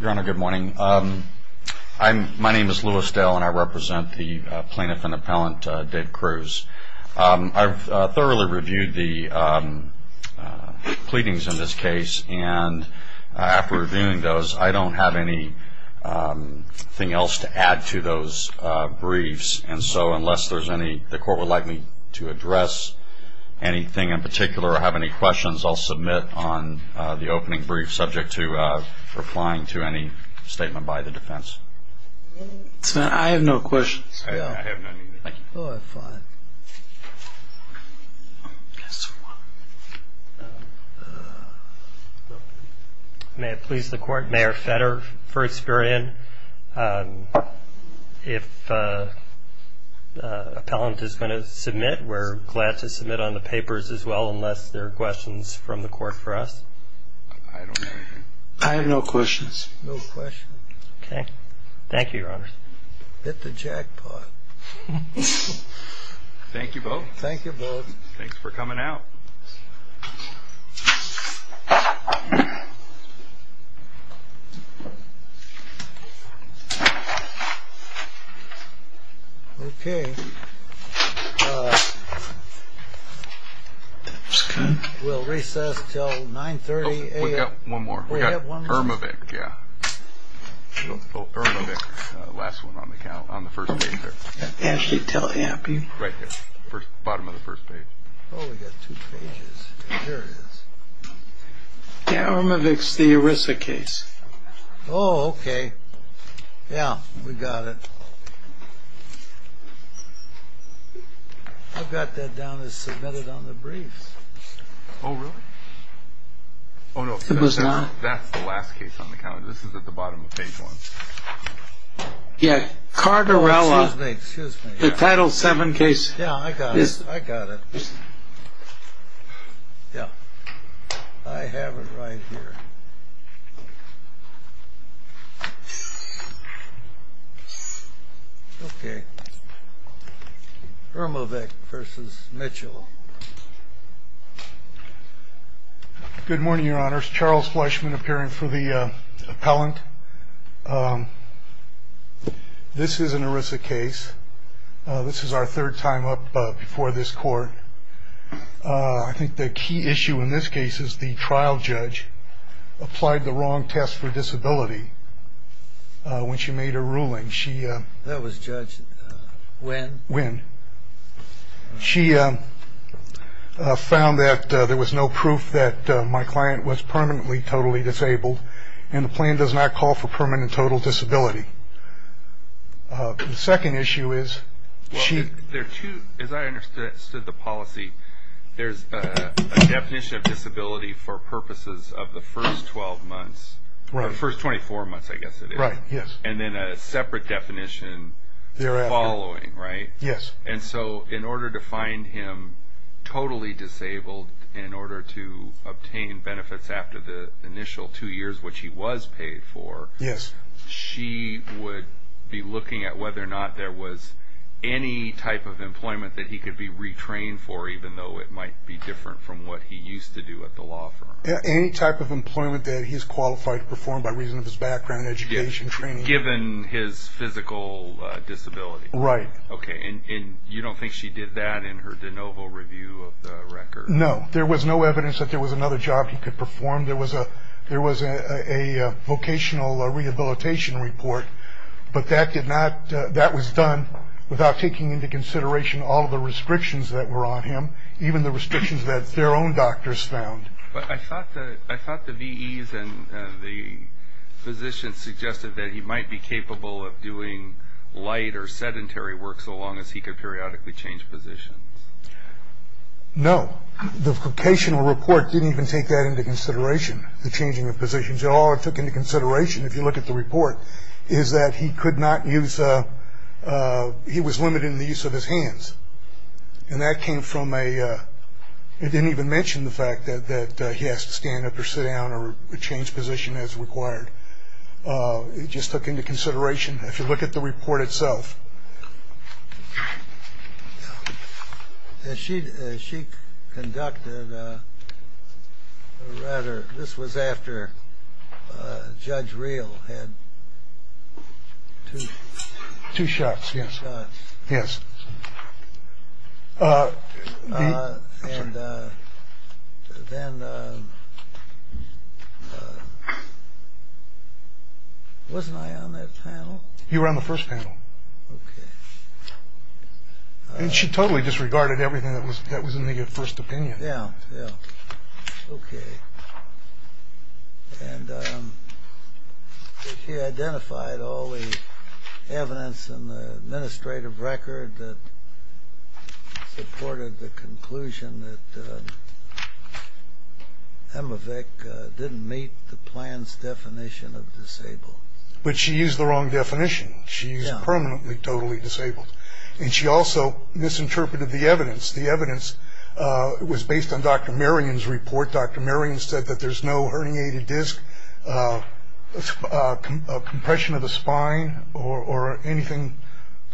Your Honor, good morning. My name is Lewis Dale and I represent the Plaintiff and Appellant Dave Kruse. I've thoroughly reviewed the pleadings in this case and after reviewing those, I don't have anything else to add to those briefs. And so unless there's any, the court would like me to address anything in particular or have any questions, I'll submit on the opening brief subject to replying to any statement by the defense. I have no questions. May it please the Court, Mayor Fetter v. Experian. If the appellant is going to submit, we're glad to submit on the papers as well unless there are questions from the court for us. I have no questions. No questions. Okay. Thank you, Your Honor. Hit the jackpot. Thank you both. Thank you both. Thanks for coming out. Okay. We'll recess until 930 a.m. We have one more. We have one more. We got Irmovic, yeah. Irmovic, last one on the count, on the first page there. Right there, bottom of the first page. Oh, we got two pages. Here it is. Yeah, Irmovic's the ERISA case. Oh, okay. Yeah, we got it. I've got that down as submitted on the briefs. Oh, really? Oh, no, that's the last case on the count. This is at the bottom of page one. Yeah, Cardarella. Excuse me. The Title VII case. Yeah, I got it. I got it. Yeah. I have it right here. Okay. Irmovic v. Mitchell. Good morning, Your Honors. Good morning, Your Honors. I'm going to start with a little bit of background. This is the first Charles Fleshman appearing for the appellant. This is an ERISA case. This is our third time up before this court. I think the key issue in this case is the trial judge applied the wrong test for disability when she made her ruling. That was Judge Wynn? Wynn. She found that there was no proof that my client was permanently totally disabled, and the plan does not call for permanent total disability. The second issue is she – Well, there are two – as I understood the policy, there's a definition of disability for purposes of the first 12 months, or the first 24 months, I guess it is. Right, yes. And then a separate definition following, right? Yes. And so in order to find him totally disabled, in order to obtain benefits after the initial two years, which he was paid for, she would be looking at whether or not there was any type of employment that he could be retrained for, even though it might be different from what he used to do at the law firm. Any type of employment that he's qualified to perform by reason of his background, education, training. Given his physical disability. Right. Okay, and you don't think she did that in her de novo review of the record? No, there was no evidence that there was another job he could perform. There was a vocational rehabilitation report, but that was done without taking into consideration all the restrictions that were on him, even the restrictions that their own doctors found. But I thought the VEs and the physicians suggested that he might be capable of doing light or sedentary work so long as he could periodically change positions. No, the vocational report didn't even take that into consideration, the changing of positions. All it took into consideration, if you look at the report, is that he could not use, and that came from a, it didn't even mention the fact that he has to stand up or sit down or change position as required. It just took into consideration, if you look at the report itself. She conducted, or rather, this was after Judge Real had two shots. Yes. And then, wasn't I on that panel? You were on the first panel. Okay. And she totally disregarded everything that was in the first opinion. Yeah, yeah, okay. And she identified all the evidence in the administrative record that supported the conclusion that Emmevik didn't meet the plan's definition of disabled. But she used the wrong definition. She's permanently, totally disabled. And she also misinterpreted the evidence. The evidence was based on Dr. Marion's report. Dr. Marion said that there's no herniated disc, compression of the spine, or anything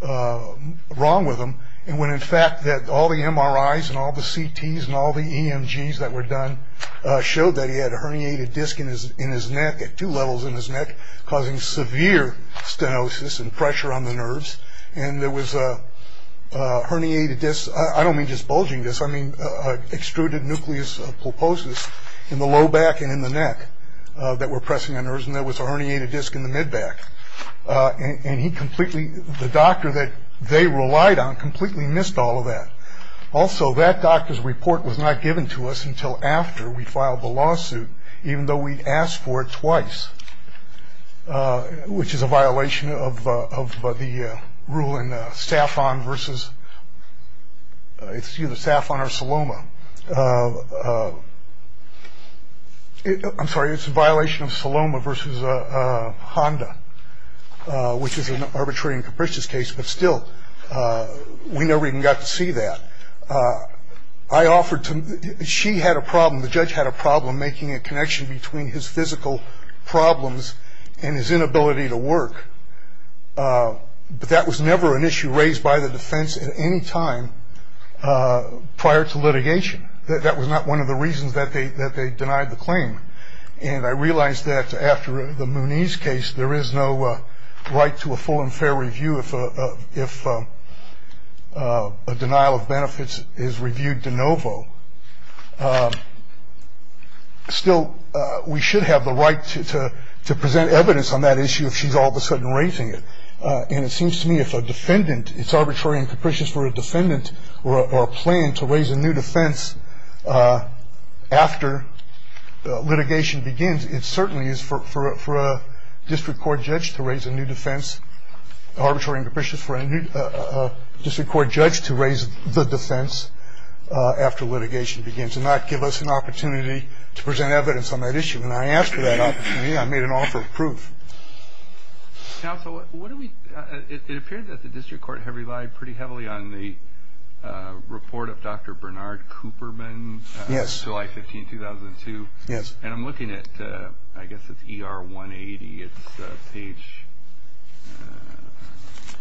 wrong with him. And when, in fact, all the MRIs and all the CTs and all the EMGs that were done showed that he had a herniated disc in his neck, at two levels in his neck, causing severe stenosis and pressure on the nerves. And there was a herniated disc. I don't mean just bulging disc. I mean extruded nucleus pulposus in the low back and in the neck that were pressing on nerves. And there was a herniated disc in the mid-back. And he completely, the doctor that they relied on, completely missed all of that. Also, that doctor's report was not given to us until after we filed the lawsuit, even though we'd asked for it twice, which is a violation of the rule in Saffron versus, it's either Saffron or Saloma. I'm sorry, it's a violation of Saloma versus Honda, which is an arbitrary and capricious case. But still, we never even got to see that. I offered to, she had a problem, the judge had a problem, making a connection between his physical problems and his inability to work. But that was never an issue raised by the defense at any time prior to litigation. That was not one of the reasons that they denied the claim. And I realized that after the Mooney's case, there is no right to a full and fair review if a denial of benefits is reviewed de novo. Still, we should have the right to present evidence on that issue if she's all of a sudden raising it. And it seems to me if a defendant, it's arbitrary and capricious for a defendant to raise a new defense after litigation begins, it certainly is for a district court judge to raise a new defense. Arbitrary and capricious for a district court judge to raise the defense after litigation begins and not give us an opportunity to present evidence on that issue. And I asked for that opportunity. I made an offer of proof. Counsel, it appeared that the district court had relied pretty heavily on the report of Dr. Bernard Cooperman. Yes. July 15, 2002. Yes. And I'm looking at, I guess it's ER 180. It's page,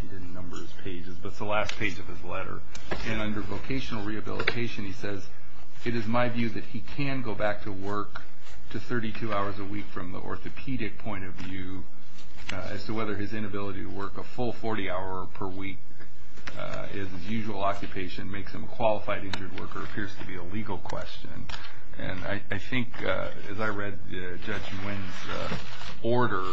he didn't number his pages, but it's the last page of his letter. And under vocational rehabilitation, he says, it is my view that he can go back to work to 32 hours a week from the orthopedic point of view as to whether his inability to work a full 40 hours per week is his usual occupation, makes him a qualified injured worker, appears to be a legal question. And I think, as I read Judge Nguyen's order,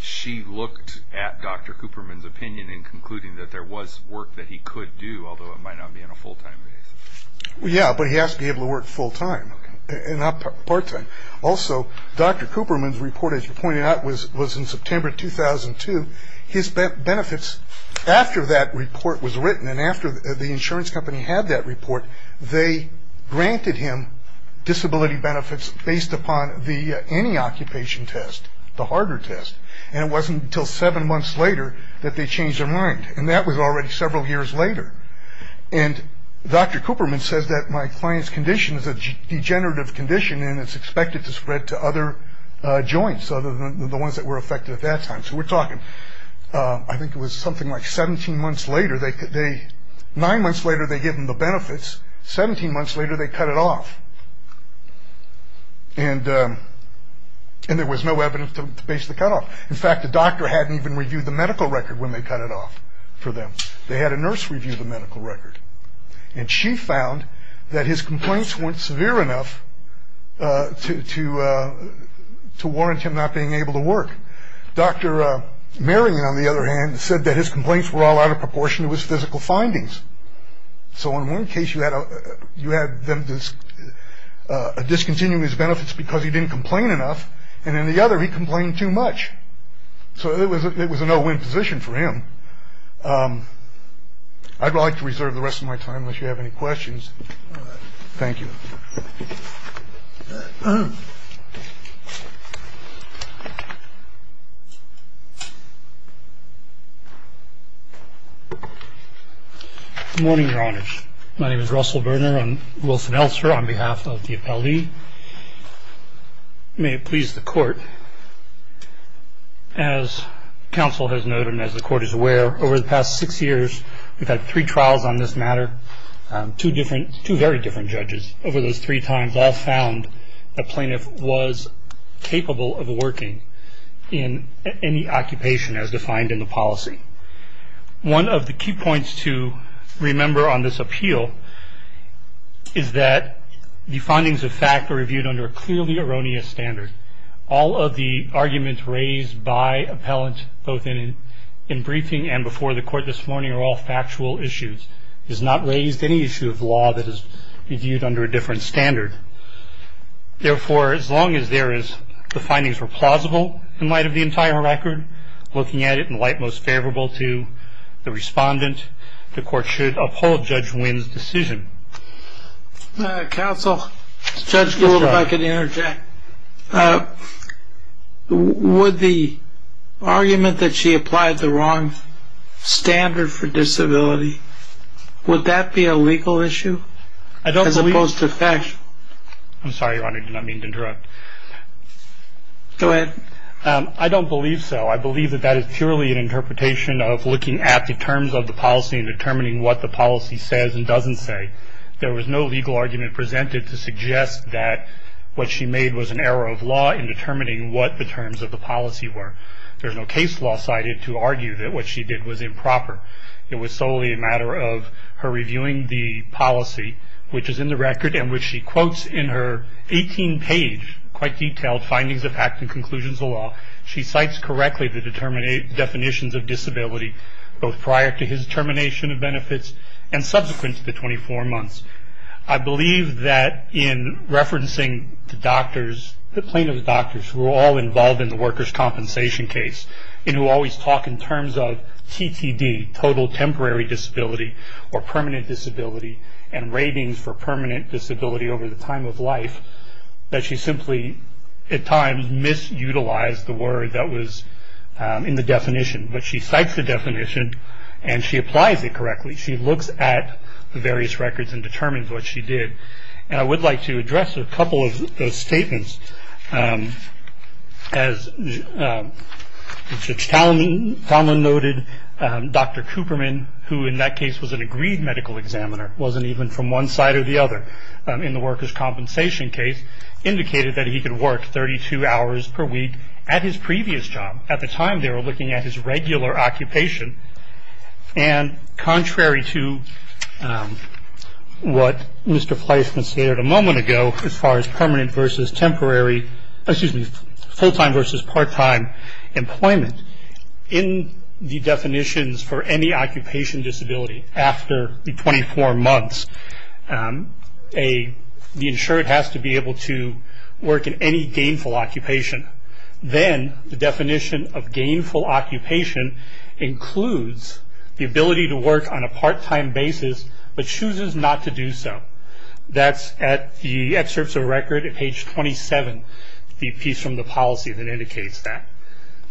she looked at Dr. Cooperman's opinion in concluding that there was work that he could do, although it might not be on a full-time basis. Yeah, but he has to be able to work full-time and not part-time. Also, Dr. Cooperman's report, as you pointed out, was in September 2002. His benefits after that report was written and after the insurance company had that report, they granted him disability benefits based upon the anti-occupation test, the harder test. And it wasn't until seven months later that they changed their mind. And that was already several years later. And Dr. Cooperman says that my client's condition is a degenerative condition and it's expected to spread to other joints other than the ones that were affected at that time. So we're talking, I think it was something like 17 months later. Nine months later, they give him the benefits. Seventeen months later, they cut it off. And there was no evidence to base the cutoff. In fact, the doctor hadn't even reviewed the medical record when they cut it off for them. They had a nurse review the medical record. And she found that his complaints weren't severe enough to warrant him not being able to work. Dr. Merrigan, on the other hand, said that his complaints were all out of proportion to his physical findings. So in one case, you had them discontinuing his benefits because he didn't complain enough. And in the other, he complained too much. So it was a no-win position for him. I'd like to reserve the rest of my time unless you have any questions. Thank you. Good morning, Your Honors. My name is Russell Berner. I'm Wilson Elster on behalf of the appellee. May it please the Court. As counsel has noted and as the Court is aware, over the past six years, we've had three trials on this matter, two very different judges. Over those three times, all found a plaintiff was capable of working in any occupation as defined in the policy. One of the key points to remember on this appeal is that the findings of fact are reviewed under a clearly erroneous standard. All of the arguments raised by appellant both in briefing and before the Court this morning are all factual issues. It has not raised any issue of law that is reviewed under a different standard. Therefore, as long as there is the findings were plausible in light of the entire record, looking at it in light most favorable to the respondent, the Court should uphold Judge Wynn's decision. Counsel, Judge Gould, if I could interject. Would the argument that she applied the wrong standard for disability, would that be a legal issue as opposed to factual? I'm sorry, Your Honor. Go ahead. I don't believe so. I believe that that is purely an interpretation of looking at the terms of the policy and determining what the policy says and doesn't say. There was no legal argument presented to suggest that what she made was an error of law in determining what the terms of the policy were. There's no case law cited to argue that what she did was improper. It was solely a matter of her reviewing the policy, which is in the record, and which she quotes in her 18-page, quite detailed, findings of act and conclusions of law. She cites correctly the definitions of disability, both prior to his termination of benefits and subsequent to the 24 months. I believe that in referencing the doctors, the plaintiff's doctors, who were all involved in the workers' compensation case and who always talk in terms of TTD, total temporary disability, or permanent disability, and ratings for permanent disability over the time of life, that she simply, at times, misutilized the word that was in the definition. But she cites the definition, and she applies it correctly. She looks at the various records and determines what she did. And I would like to address a couple of those statements. As Judge Talman noted, Dr. Cooperman, who in that case was an agreed medical examiner, wasn't even from one side or the other in the workers' compensation case, indicated that he could work 32 hours per week at his previous job. At the time, they were looking at his regular occupation. And contrary to what Mr. Fleisman stated a moment ago, as far as permanent versus temporary, excuse me, full-time versus part-time employment, in the definitions for any occupation disability after the 24 months, the insured has to be able to work in any gainful occupation. Then the definition of gainful occupation includes the ability to work on a part-time basis, but chooses not to do so. That's at the excerpts of a record at page 27, the piece from the policy that indicates that.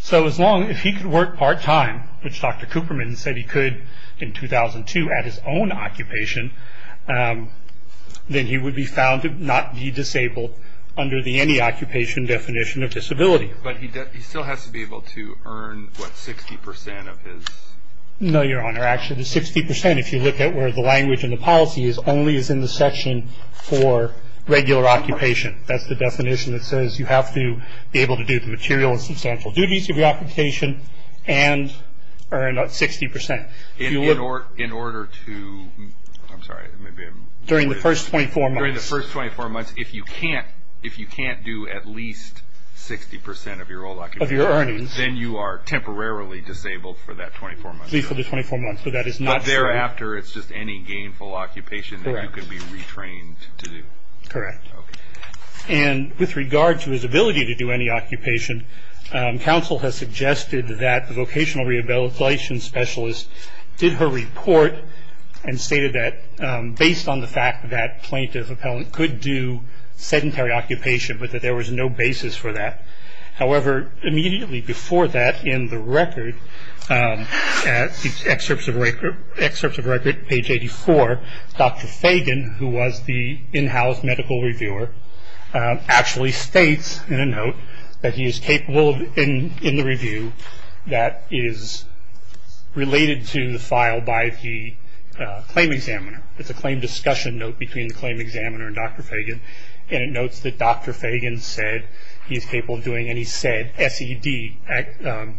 So as long as he could work part-time, which Dr. Cooperman said he could in 2002 at his own occupation, then he would be found to not be disabled under the any occupation definition of disability. But he still has to be able to earn, what, 60% of his? No, Your Honor. Actually, the 60%, if you look at where the language and the policy is, only is in the section for regular occupation. That's the definition that says you have to be able to do the material and substantial duties of your occupation and earn 60%. In order to, I'm sorry, maybe I'm... During the first 24 months. During the first 24 months, if you can't do at least 60% of your old occupation... Of your earnings. ...then you are temporarily disabled for that 24 months. At least for the 24 months, but that is not... But thereafter, it's just any gainful occupation that you could be retrained to do. Correct. Okay. And with regard to his ability to do any occupation, counsel has suggested that the vocational rehabilitation specialist did her report and stated that based on the fact that plaintiff-appellant could do sedentary occupation, but that there was no basis for that. However, immediately before that, in the record, in the excerpts of record, page 84, Dr. Fagan, who was the in-house medical reviewer, actually states in a note that he is capable in the review that is related to the file by the claim examiner. It's a claim discussion note between the claim examiner and Dr. Fagan, and it notes that Dr. Fagan said he is capable of doing any said SED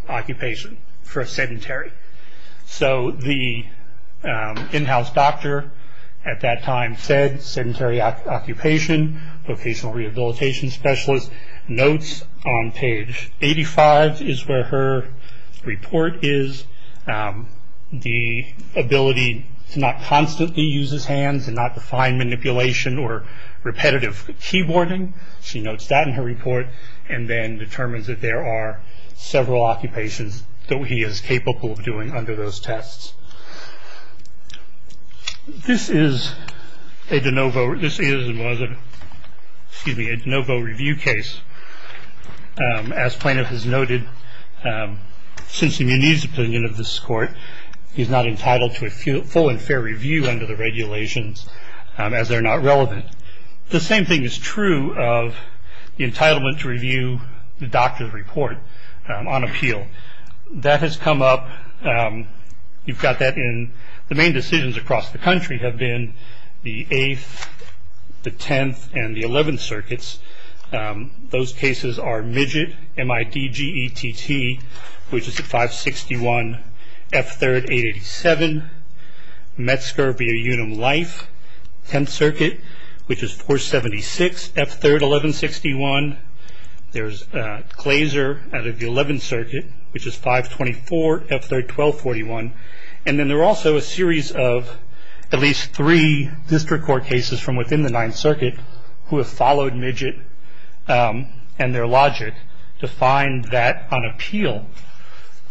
occupation for sedentary. So the in-house doctor at that time said sedentary occupation, vocational rehabilitation specialist notes on page 85 is where her report is. The ability to not constantly use his hands and not to find manipulation or repetitive keyboarding, she notes that in her report and then determines that there are several occupations that he is capable of doing under those tests. This is a de novo review case. As plaintiff has noted, since the Muniz opinion of this court, he's not entitled to a full and fair review under the regulations as they're not relevant. The same thing is true of the entitlement to review the doctor's report on appeal. That has come up. You've got that in the main decisions across the country have been the 8th, the 10th, and the 11th circuits. Those cases are midget, M-I-D-G-E-T-T, which is at 561 F3rd 887, Metzger via Unum Life, 10th circuit, which is 476 F3rd 1161. There's Glazer out of the 11th circuit, which is 524 F3rd 1241. And then there are also a series of at least three district court cases from within the 9th circuit who have followed midget and their logic to find that on appeal,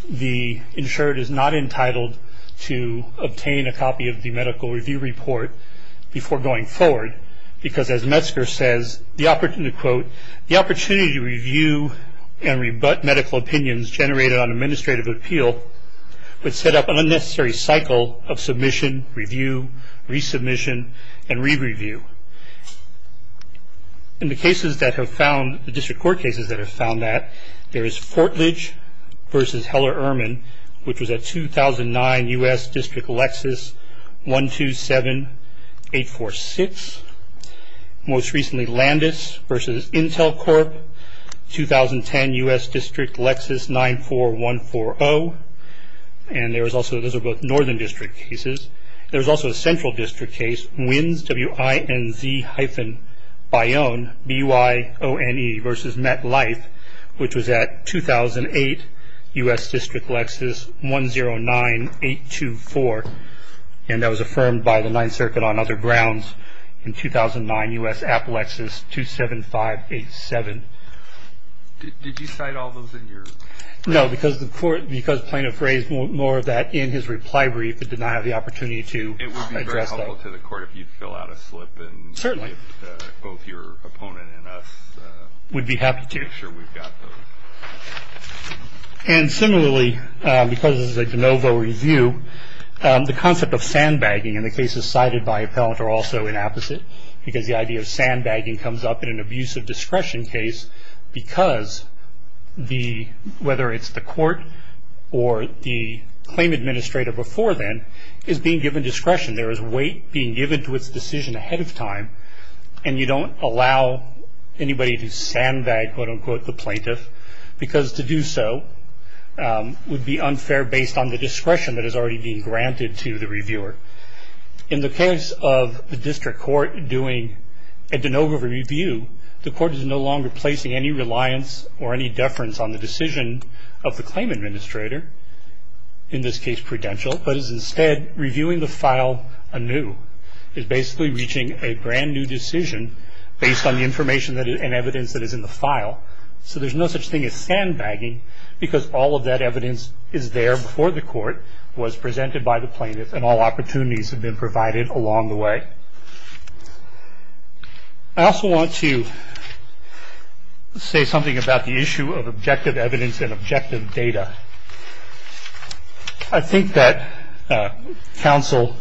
the insured is not entitled to obtain a copy of the medical review report before going forward, because as Metzger says, the opportunity to quote, the opportunity to review and rebut medical opinions generated on administrative appeal would set up an unnecessary cycle of submission, review, resubmission, and re-review. In the cases that have found, the district court cases that have found that, there is Fortledge versus Heller-Urman, which was at 2009 U.S. District Lexus 127846. Most recently Landis versus Intel Corp., 2010 U.S. District Lexus 94140. And there was also, those are both northern district cases. There was also a central district case, Wins, W-I-N-Z hyphen Bione, B-U-I-O-N-E versus MetLife, which was at 2008 U.S. District Lexus 109824. And that was affirmed by the 9th circuit on other grounds in 2009 U.S. Appalachias 27587. Did you cite all those in your? No, because the court, because plaintiff raised more of that in his reply brief and did not have the opportunity to address that. It would be very helpful to the court if you'd fill out a slip. Certainly. Both your opponent and us. We'd be happy to. Make sure we've got those. And similarly, because this is a de novo review, the concept of sandbagging in the cases cited by appellant are also inapposite because the idea of sandbagging comes up in an abuse of discretion case because whether it's the court or the claim administrator before then is being given discretion. There is weight being given to its decision ahead of time, and you don't allow anybody to sandbag, quote, unquote, the plaintiff, because to do so would be unfair based on the discretion that is already being granted to the reviewer. In the case of the district court doing a de novo review, the court is no longer placing any reliance or any deference on the decision of the claim administrator, in this case prudential, but is instead reviewing the file anew. It's basically reaching a brand-new decision based on the information and evidence that is in the file. So there's no such thing as sandbagging because all of that evidence is there before the court, was presented by the plaintiff, and all opportunities have been provided along the way. I also want to say something about the issue of objective evidence and objective data. I think that counsel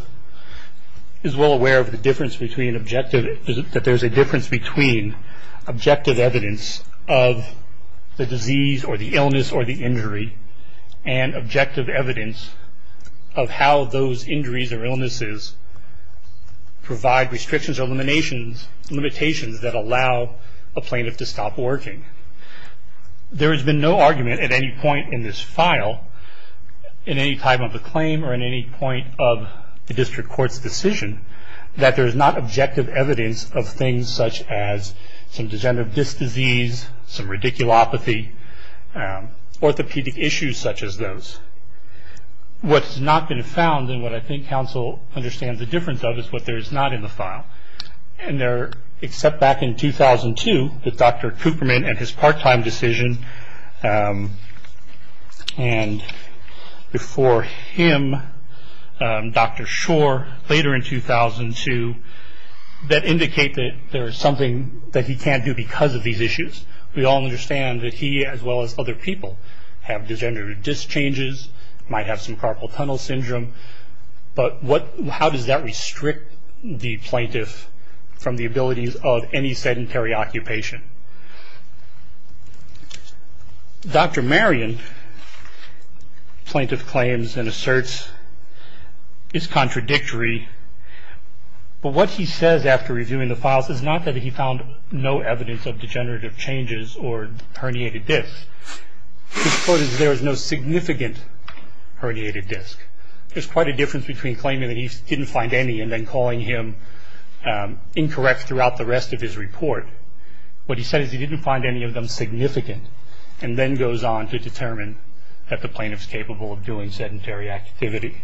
is well aware of the difference between objective, that there's a difference between objective evidence of the disease or the illness or the injury and objective evidence of how those injuries or illnesses provide restrictions or limitations that allow a plaintiff to stop working. There has been no argument at any point in this file, in any time of the claim or in any point of the district court's decision, that there's not objective evidence of things such as some degenerative disc disease, some radiculopathy, orthopedic issues such as those. What has not been found and what I think counsel understands the difference of is what there is not in the file. And there, except back in 2002, with Dr. Cooperman and his part-time decision, and before him, Dr. Shore, later in 2002, that indicate that there is something that he can't do because of these issues. We all understand that he, as well as other people, have degenerative disc changes, might have some carpal tunnel syndrome, but how does that restrict the plaintiff from the abilities of any sedentary occupation? Dr. Marion, plaintiff claims and asserts, is contradictory, but what he says after reviewing the files is not that he found no evidence of degenerative changes or herniated discs. His quote is, there is no significant herniated disc. There's quite a difference between claiming that he didn't find any and then calling him incorrect throughout the rest of his report. What he said is he didn't find any of them significant and then goes on to determine that the plaintiff's capable of doing sedentary activity.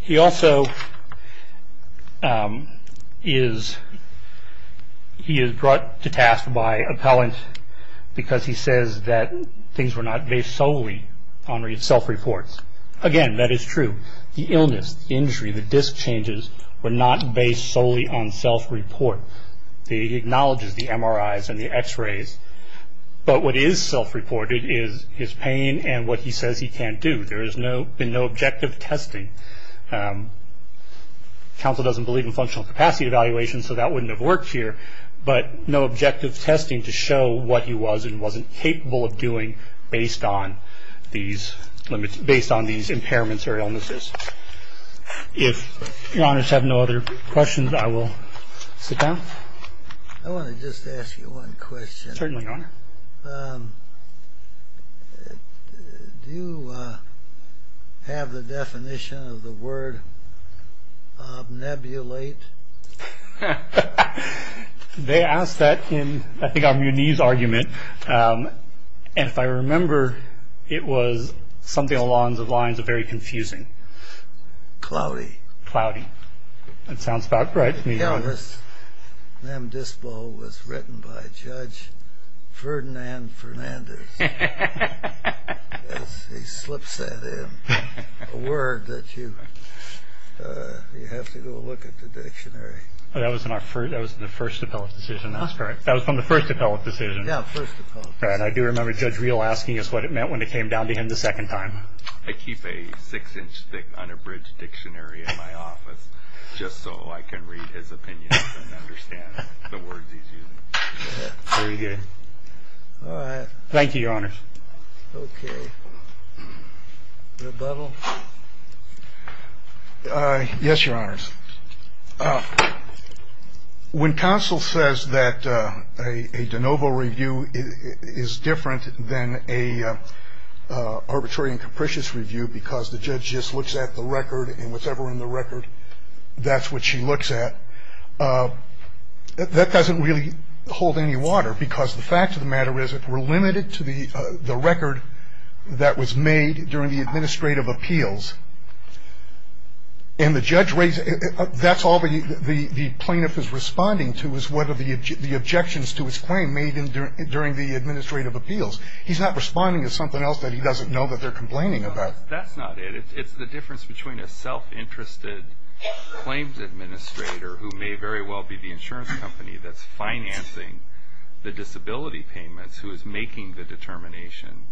He also is brought to task by appellant because he says that things were not based solely on self-reports. Again, that is true. The illness, the injury, the disc changes were not based solely on self-report. He acknowledges the MRIs and the x-rays, but what is self-reported is his pain and what he says he can't do. There has been no objective testing. Counsel doesn't believe in functional capacity evaluations, so that wouldn't have worked here, but no objective testing to show what he was and wasn't capable of doing based on these impairments or illnesses. If your honors have no other questions, I will sit down. I want to just ask you one question. Certainly, your honor. Do you have the definition of the word obnebulate? They ask that in, I think, our Muniz argument. If I remember, it was something along the lines of very confusing. Cloudy. Cloudy. That sounds about right to me, your honor. M. Dispo was written by Judge Ferdinand Fernandez. He slips that in. A word that you have to go look at the dictionary. That was in the first appellate decision. That's correct. That was from the first appellate decision. Yeah, first appellate decision. I do remember Judge Real asking us what it meant when it came down to him the second time. I keep a six-inch-thick unabridged dictionary in my office just so I can read his opinions and understand the words he's using. Very good. Thank you, your honors. Okay. Rebuttal? Yes, your honors. When counsel says that a de novo review is different than an arbitrary and capricious review because the judge just looks at the record and whatever's in the record, that's what she looks at. That doesn't really hold any water because the fact of the matter is that we're limited to the record that was made during the administrative appeals. And the judge raised it. That's all the plaintiff is responding to is whether the objections to his claim made during the administrative appeals. He's not responding to something else that he doesn't know that they're complaining about. That's not it. It's the difference between a self-interested claims administrator who may very well be the insurance company that's financing the disability payments, who is making the determination,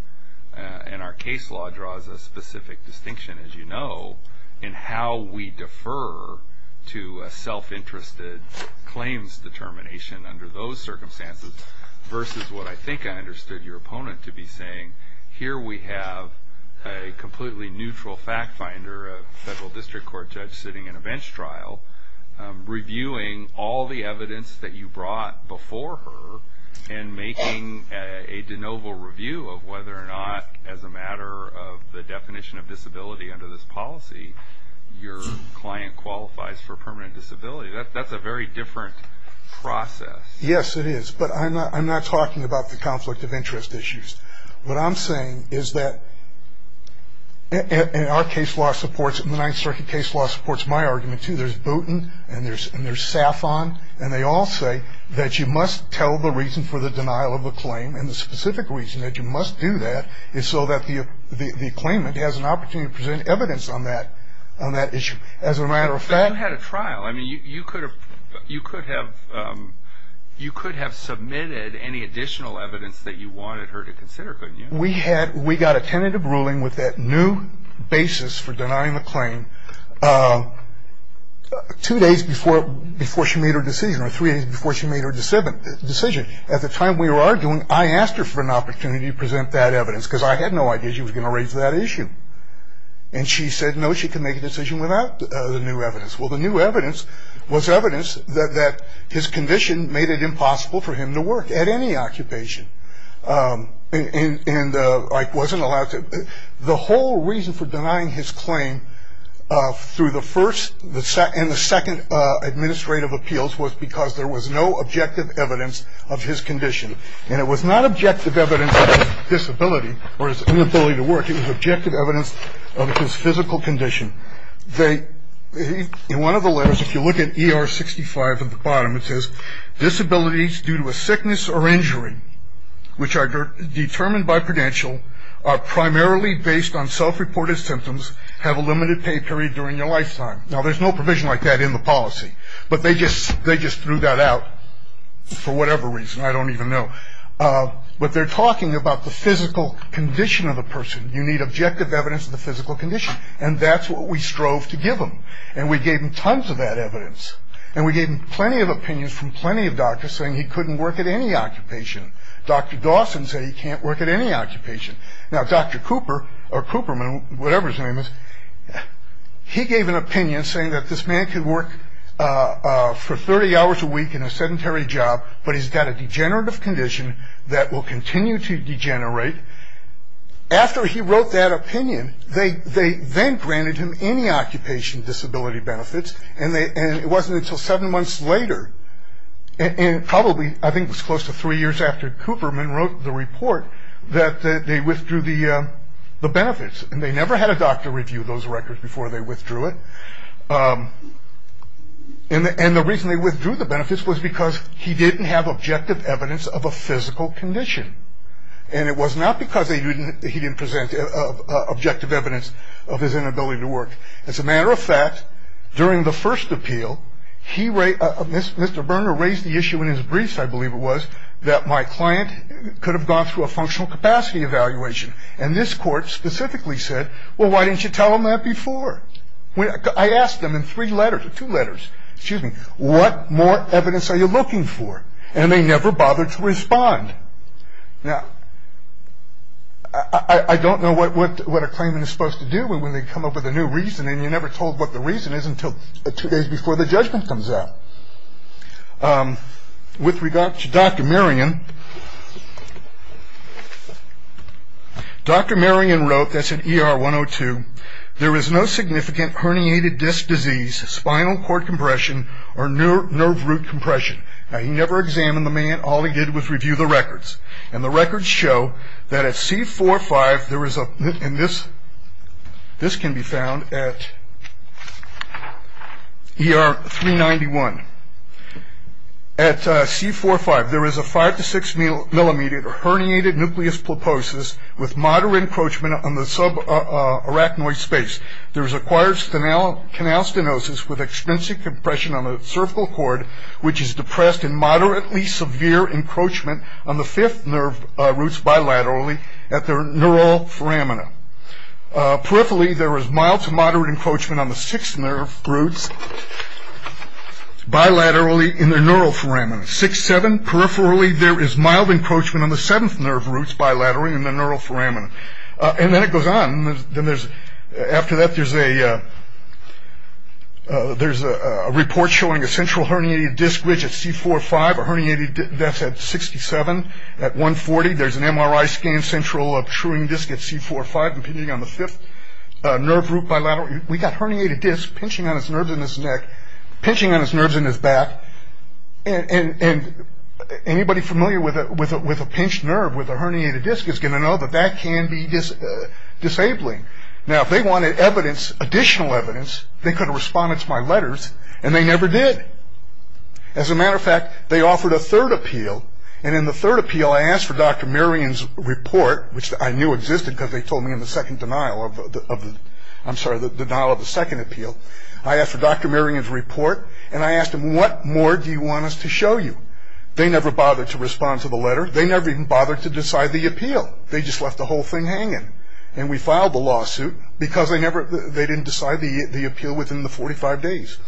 and our case law draws a specific distinction, as you know, in how we defer to a self-interested claims determination under those circumstances versus what I think I understood your opponent to be saying. Here we have a completely neutral fact finder, a federal district court judge sitting in a bench trial, reviewing all the evidence that you brought before her and making a de novo review of whether or not, as a matter of the definition of disability under this policy, your client qualifies for permanent disability. That's a very different process. Yes, it is, but I'm not talking about the conflict of interest issues. What I'm saying is that, and our case law supports it, and the Ninth Circuit case law supports my argument, too. There's Booten, and there's Saffon, and they all say that you must tell the reason for the denial of a claim, and the specific reason that you must do that is so that the claimant has an opportunity to present evidence on that issue. As a matter of fact- I mean, you could have submitted any additional evidence that you wanted her to consider, couldn't you? We got a tentative ruling with that new basis for denying the claim two days before she made her decision, or three days before she made her decision. At the time we were arguing, I asked her for an opportunity to present that evidence because I had no idea she was going to raise that issue. And she said, no, she can make a decision without the new evidence. Well, the new evidence was evidence that his condition made it impossible for him to work at any occupation. And I wasn't allowed to- the whole reason for denying his claim through the first and the second administrative appeals was because there was no objective evidence of his condition. And it was not objective evidence of his disability or his inability to work. It was objective evidence of his physical condition. In one of the letters, if you look at ER 65 at the bottom, it says, disabilities due to a sickness or injury which are determined by credential are primarily based on self-reported symptoms, have a limited pay period during their lifetime. Now, there's no provision like that in the policy, but they just threw that out for whatever reason. I don't even know. But they're talking about the physical condition of the person. You need objective evidence of the physical condition. And that's what we strove to give him. And we gave him tons of that evidence. And we gave him plenty of opinions from plenty of doctors saying he couldn't work at any occupation. Dr. Dawson said he can't work at any occupation. Now, Dr. Cooper, or Cooperman, whatever his name is, he gave an opinion saying that this man could work for 30 hours a week in a sedentary job, but he's got a degenerative condition that will continue to degenerate. After he wrote that opinion, they then granted him any occupation disability benefits, and it wasn't until seven months later, and probably I think it was close to three years after Cooperman wrote the report, that they withdrew the benefits. And they never had a doctor review those records before they withdrew it. And the reason they withdrew the benefits was because he didn't have objective evidence of a physical condition. And it was not because he didn't present objective evidence of his inability to work. As a matter of fact, during the first appeal, Mr. Berner raised the issue in his briefs, I believe it was, that my client could have gone through a functional capacity evaluation. And this court specifically said, well, why didn't you tell them that before? I asked them in three letters or two letters, excuse me, what more evidence are you looking for? And they never bothered to respond. Now, I don't know what a claimant is supposed to do when they come up with a new reason, and you're never told what the reason is until two days before the judgment comes out. With regard to Dr. Merian, Dr. Merian wrote, that's in ER 102, there is no significant herniated disc disease, spinal cord compression, or nerve root compression. Now, he never examined the man, all he did was review the records. And the records show that at C4-5, there is a, and this can be found at ER 391. At C4-5, there is a five to six millimeter herniated nucleus pulposus with moderate encroachment on the subarachnoid space. There is acquired canal stenosis with extrinsic compression on the cervical cord, which is depressed in moderately severe encroachment on the fifth nerve roots bilaterally at the neural foramina. Peripherally, there is mild to moderate encroachment on the sixth nerve roots bilaterally in the neural foramina. C6-7, peripherally, there is mild encroachment on the seventh nerve roots bilaterally in the neural foramina. And then it goes on. After that, there is a report showing a central herniated disc ridge at C4-5, a herniated disc at 67. At 140, there is an MRI scan central of truing disc at C4-5, impinging on the fifth nerve root bilaterally. We got herniated disc pinching on his nerves in his neck, pinching on his nerves in his back. And anybody familiar with a pinched nerve with a herniated disc is going to know that that can be disabling. Now, if they wanted evidence, additional evidence, they could have responded to my letters, and they never did. As a matter of fact, they offered a third appeal. And in the third appeal, I asked for Dr. Merian's report, which I knew existed because they told me in the second denial of the – I'm sorry, the denial of the second appeal. I asked for Dr. Merian's report, and I asked him, what more do you want us to show you? They never bothered to respond to the letter. They never even bothered to decide the appeal. They just left the whole thing hanging. And we filed the lawsuit because they never – they didn't decide the appeal within the 45 days.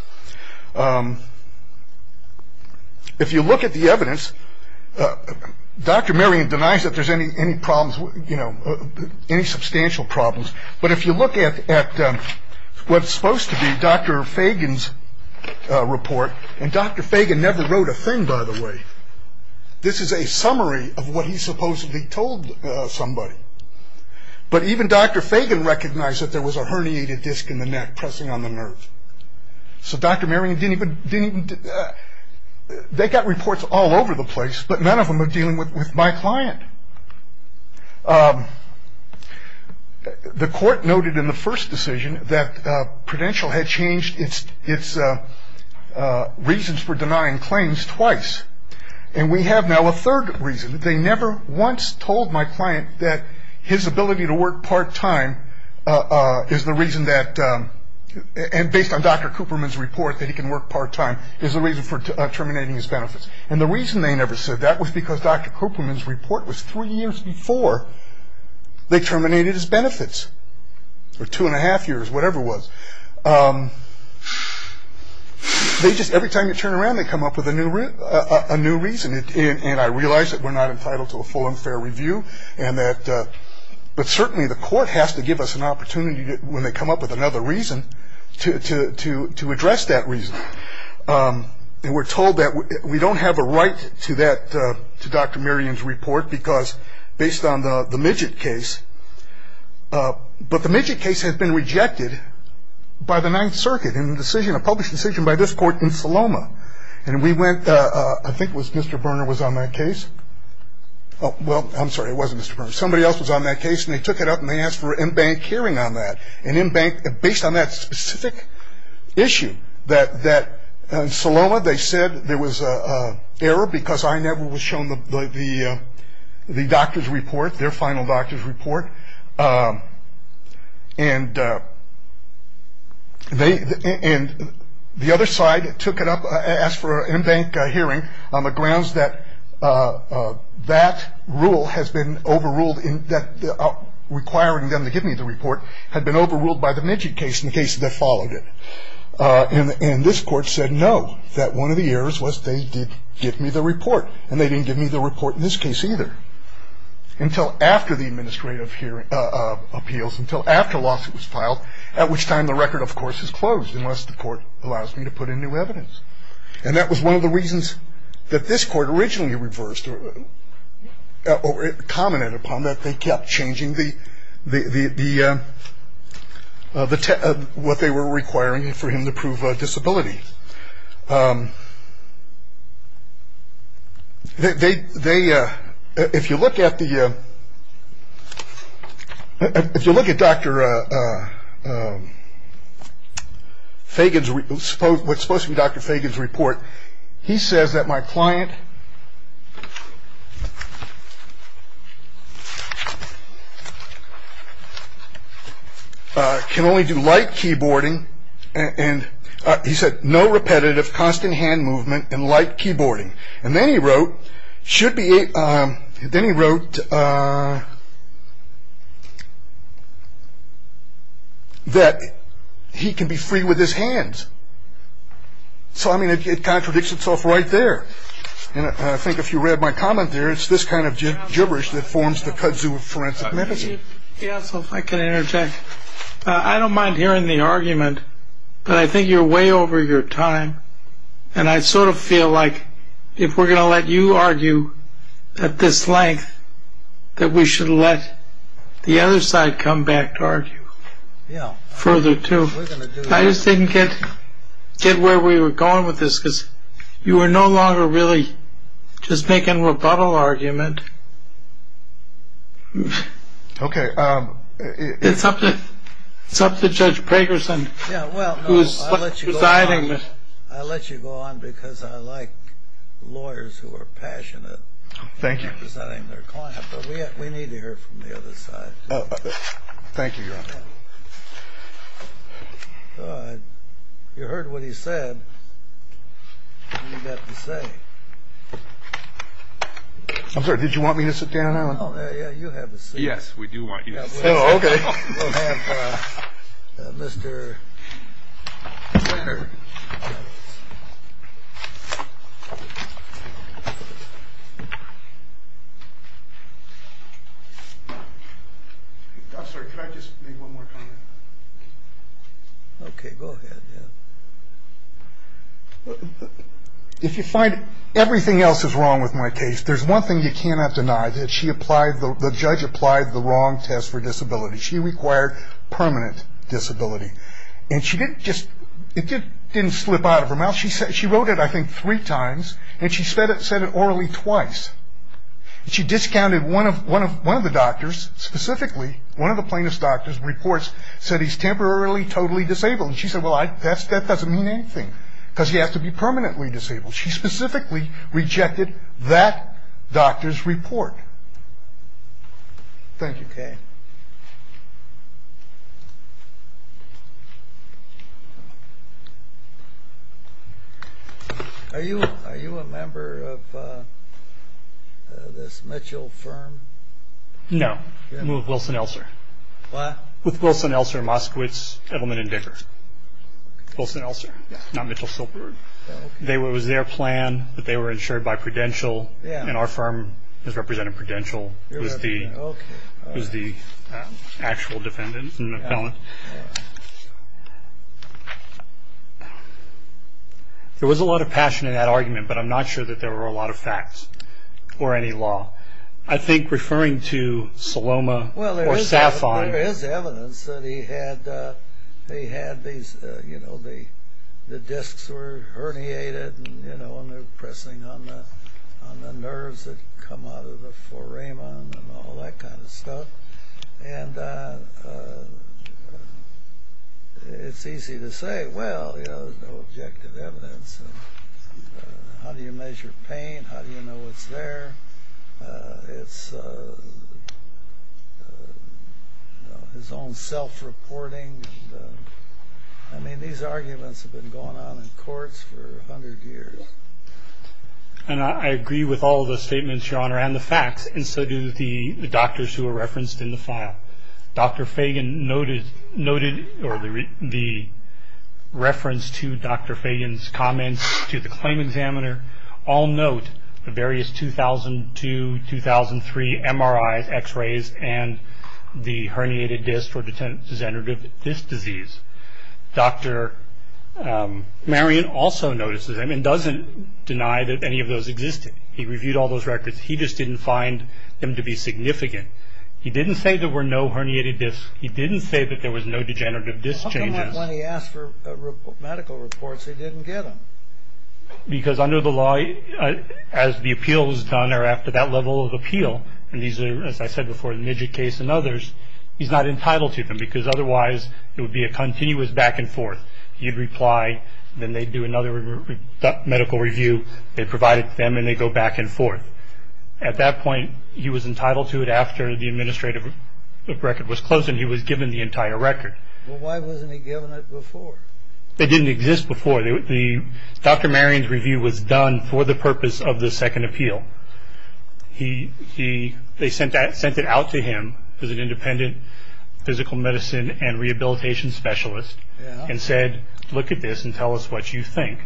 If you look at the evidence, Dr. Merian denies that there's any problems, you know, any substantial problems. But if you look at what's supposed to be Dr. Fagan's report – and Dr. Fagan never wrote a thing, by the way. This is a summary of what he supposedly told somebody. But even Dr. Fagan recognized that there was a herniated disc in the neck pressing on the nerve. So Dr. Merian didn't even – they got reports all over the place, but none of them were dealing with my client. The court noted in the first decision that Prudential had changed its reasons for denying claims twice. And we have now a third reason. They never once told my client that his ability to work part-time is the reason that – and based on Dr. Cooperman's report that he can work part-time is the reason for terminating his benefits. And the reason they never said that was because Dr. Cooperman's report was three years before they terminated his benefits, or two and a half years, whatever it was. They just – every time you turn around, they come up with a new reason. And I realize that we're not entitled to a full and fair review and that – but certainly the court has to give us an opportunity when they come up with another reason to address that reason. And we're told that we don't have a right to that – to Dr. Merian's report because – based on the Midgett case. But the Midgett case has been rejected by the Ninth Circuit in a decision – a published decision by this court in Saloma. And we went – I think it was Mr. Berner was on that case. Well, I'm sorry, it wasn't Mr. Berner. Somebody else was on that case and they took it up and they asked for an in-bank hearing on that. An in-bank – based on that specific issue that – in Saloma they said there was an error because I never was shown the doctor's report, their final doctor's report. And they – and the other side took it up and asked for an in-bank hearing on the grounds that that rule has been overruled requiring them to give me the report had been overruled by the Midgett case in the case that followed it. And this court said no, that one of the errors was they did give me the report and they didn't give me the report in this case either. Until after the administrative hearing – appeals, until after a lawsuit was filed, at which time the record of course is closed unless the court allows me to put in new evidence. And that was one of the reasons that this court originally reversed – or it commented upon that they kept changing the – what they were requiring for him to prove disability. They – if you look at the – if you look at Dr. Fagan's – what's supposed to be Dr. Fagan's report, he says that my client can only do light keyboarding and – he said no repetitive, constant hand movement and light keyboarding. And then he wrote, should be – then he wrote that he can be free with his hands. So I mean it contradicts itself right there. And I think if you read my comment there, it's this kind of gibberish that forms the kudzu of forensic medicine. Yeah, so if I can interject. I don't mind hearing the argument, but I think you're way over your time. And I sort of feel like if we're going to let you argue at this length, that we should let the other side come back to argue further too. We're going to do that. I just didn't get where we were going with this, because you were no longer really just making a rebuttal argument. Okay. It's up to Judge Pragerson who's presiding. Yeah, well, no, I'll let you go on. I'll let you go on because I like lawyers who are passionate in presiding their client. Thank you. But we need to hear from the other side. Thank you. You heard what he said. I'm sorry. Did you want me to sit down? Yes, we do want you. Okay. I'm sorry. Could I just make one more comment? Okay, go ahead. If you find everything else is wrong with my case, there's one thing you cannot deny, that the judge applied the wrong test for disability. She required permanent disability. And it didn't slip out of her mouth. She wrote it, I think, three times, and she said it orally twice. She discounted one of the doctors, specifically one of the plaintiff's doctor's reports, said he's temporarily totally disabled. And she said, well, that doesn't mean anything because he has to be permanently disabled. She specifically rejected that doctor's report. Thank you. Okay. Are you a member of this Mitchell firm? No. I'm with Wilson-Elser. With Wilson-Elser, Moskowitz, Edelman, and Dicker. Wilson-Elser, not Mitchell-Silberberg. It was their plan, but they were insured by Prudential, and our firm has represented Prudential as the actual defendant and the appellant. There was a lot of passion in that argument, but I'm not sure that there were a lot of facts or any law. I think referring to Saloma or Safon. Well, there is evidence that he had these, you know, the discs were herniated, you know, and they were pressing on the nerves that come out of the foramen and all that kind of stuff. And it's easy to say, well, you know, there's no objective evidence. How do you measure pain? How do you know what's there? It's his own self-reporting. I mean, these arguments have been going on in courts for a hundred years. And I agree with all of the statements, Your Honor, and the facts, and so do the doctors who were referenced in the file. Dr. Fagan noted the reference to Dr. Fagan's comments to the claim examiner. All note the various 2002, 2003 MRIs, X-rays, and the herniated discs for degenerative disc disease. Dr. Marion also notices them and doesn't deny that any of those existed. He reviewed all those records. He just didn't find them to be significant. He didn't say there were no herniated discs. He didn't say that there was no degenerative disc changes. Well, how come that when he asked for medical reports, he didn't get them? Because under the law, as the appeals done are after that level of appeal, and these are, as I said before, the Midget case and others, he's not entitled to them because otherwise it would be a continuous back and forth. He'd reply, then they'd do another medical review. They provided them, and they'd go back and forth. At that point, he was entitled to it after the administrative record was closed, and he was given the entire record. Well, why wasn't he given it before? It didn't exist before. Dr. Marion's review was done for the purpose of the second appeal. They sent it out to him as an independent physical medicine and rehabilitation specialist and said, look at this and tell us what you think.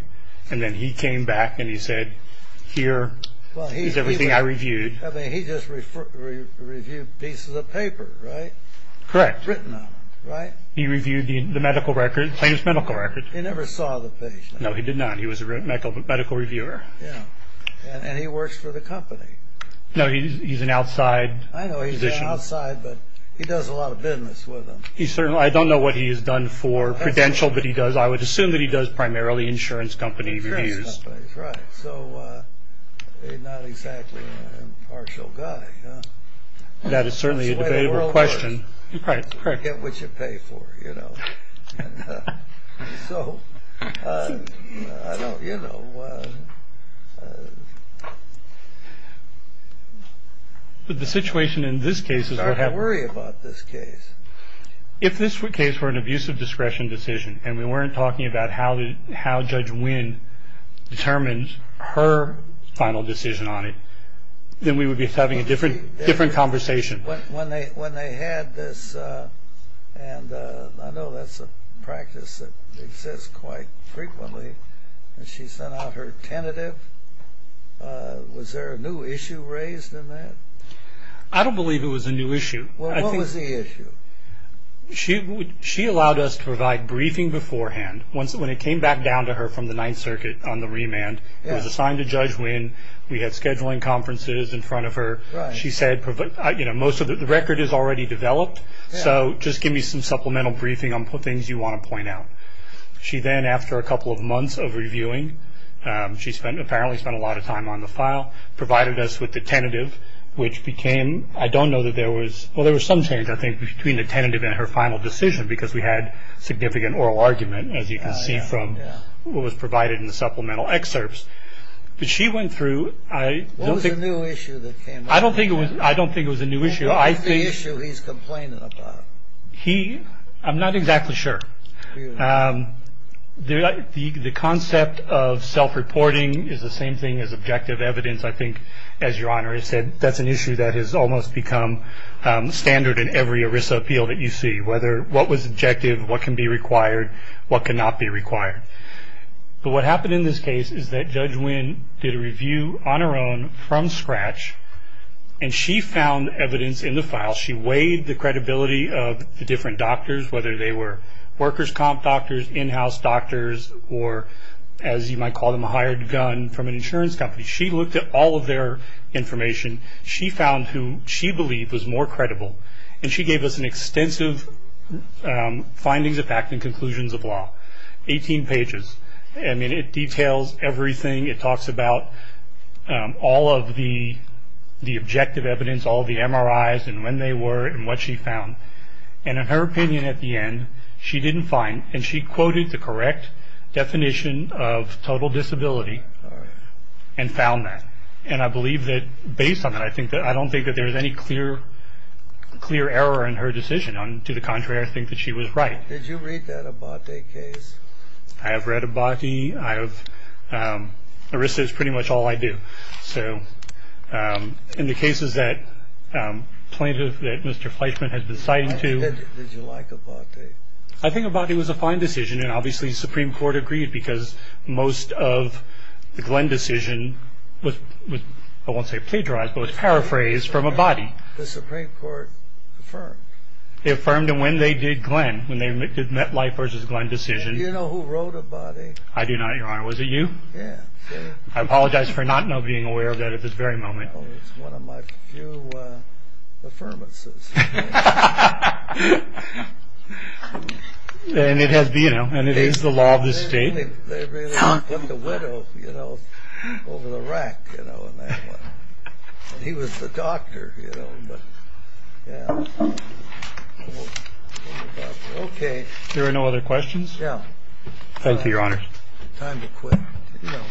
And then he came back and he said, here is everything I reviewed. He just reviewed pieces of paper, right? Correct. Written on them, right? He reviewed the medical record, the plaintiff's medical record. He never saw the patient. No, he did not. He was a medical reviewer. And he works for the company. No, he's an outside physician. I know he's an outside, but he does a lot of business with them. I don't know what he has done for Prudential, but I would assume that he does primarily insurance company reviews. Insurance companies, right. So not exactly an impartial guy. That is certainly a debatable question. You get what you pay for, you know. So, I don't, you know. But the situation in this case is. I worry about this case. If this case were an abuse of discretion decision, and we weren't talking about how Judge Wynn determines her final decision on it, then we would be having a different conversation. When they had this, and I know that's a practice that exists quite frequently. She sent out her tentative. Was there a new issue raised in that? I don't believe it was a new issue. Well, what was the issue? She allowed us to provide briefing beforehand. When it came back down to her from the Ninth Circuit on the remand, it was assigned to Judge Wynn. We had scheduling conferences in front of her. She said, you know, the record is already developed, so just give me some supplemental briefing on things you want to point out. She then, after a couple of months of reviewing, she apparently spent a lot of time on the file, provided us with the tentative, which became. I don't know that there was. Well, there was some change, I think, between the tentative and her final decision, because we had significant oral argument, as you can see from what was provided in the supplemental excerpts. But she went through. What was the new issue that came up? I don't think it was a new issue. What was the issue he's complaining about? I'm not exactly sure. The concept of self-reporting is the same thing as objective evidence, I think, as Your Honor has said. That's an issue that has almost become standard in every ERISA appeal that you see, whether what was objective, what can be required, what cannot be required. But what happened in this case is that Judge Winn did a review on her own from scratch, and she found evidence in the file. She weighed the credibility of the different doctors, whether they were workers' comp doctors, in-house doctors, or, as you might call them, a hired gun from an insurance company. She looked at all of their information. She found who she believed was more credible, and she gave us extensive findings of fact and conclusions of law. Eighteen pages. I mean, it details everything. It talks about all of the objective evidence, all the MRIs and when they were and what she found. And in her opinion at the end, she didn't find, and she quoted the correct definition of total disability and found that. And I believe that based on that, I don't think that there was any clear error in her decision. To the contrary, I think that she was right. Did you read that Abate case? I have read Abate. I have. Arrested is pretty much all I do. So in the cases that plaintiff, that Mr. Fleischman, has been citing to. Did you like Abate? I think Abate was a fine decision, and obviously the Supreme Court agreed, because most of the Glenn decision was, I won't say plagiarized, but was paraphrased from Abate. The Supreme Court affirmed. They affirmed when they did Glenn, when they met life versus Glenn decision. Do you know who wrote Abate? I do not, Your Honor. Was it you? Yeah. I apologize for not being aware of that at this very moment. It's one of my few affirmances. And it is the law of the state. They really put the widow over the rack in that one. He was the doctor, you know. Okay. There are no other questions? No. Thank you, Your Honor. Time to quit. You know,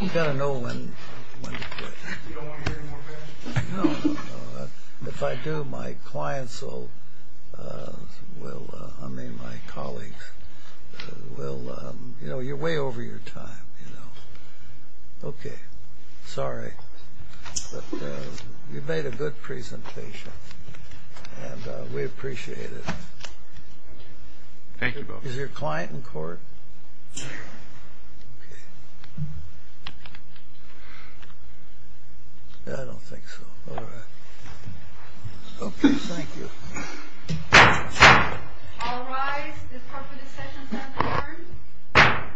you got to know when to quit. You don't want to hear any more of that? No. If I do, my clients will, I mean my colleagues, will, you know, you're way over your time. Okay. Sorry. But you made a good presentation. And we appreciate it. Thank you both. Is your client in court? Yeah. Okay. I don't think so. All right. Okay. Thank you. All rise. The Department of Sessions has adjourned.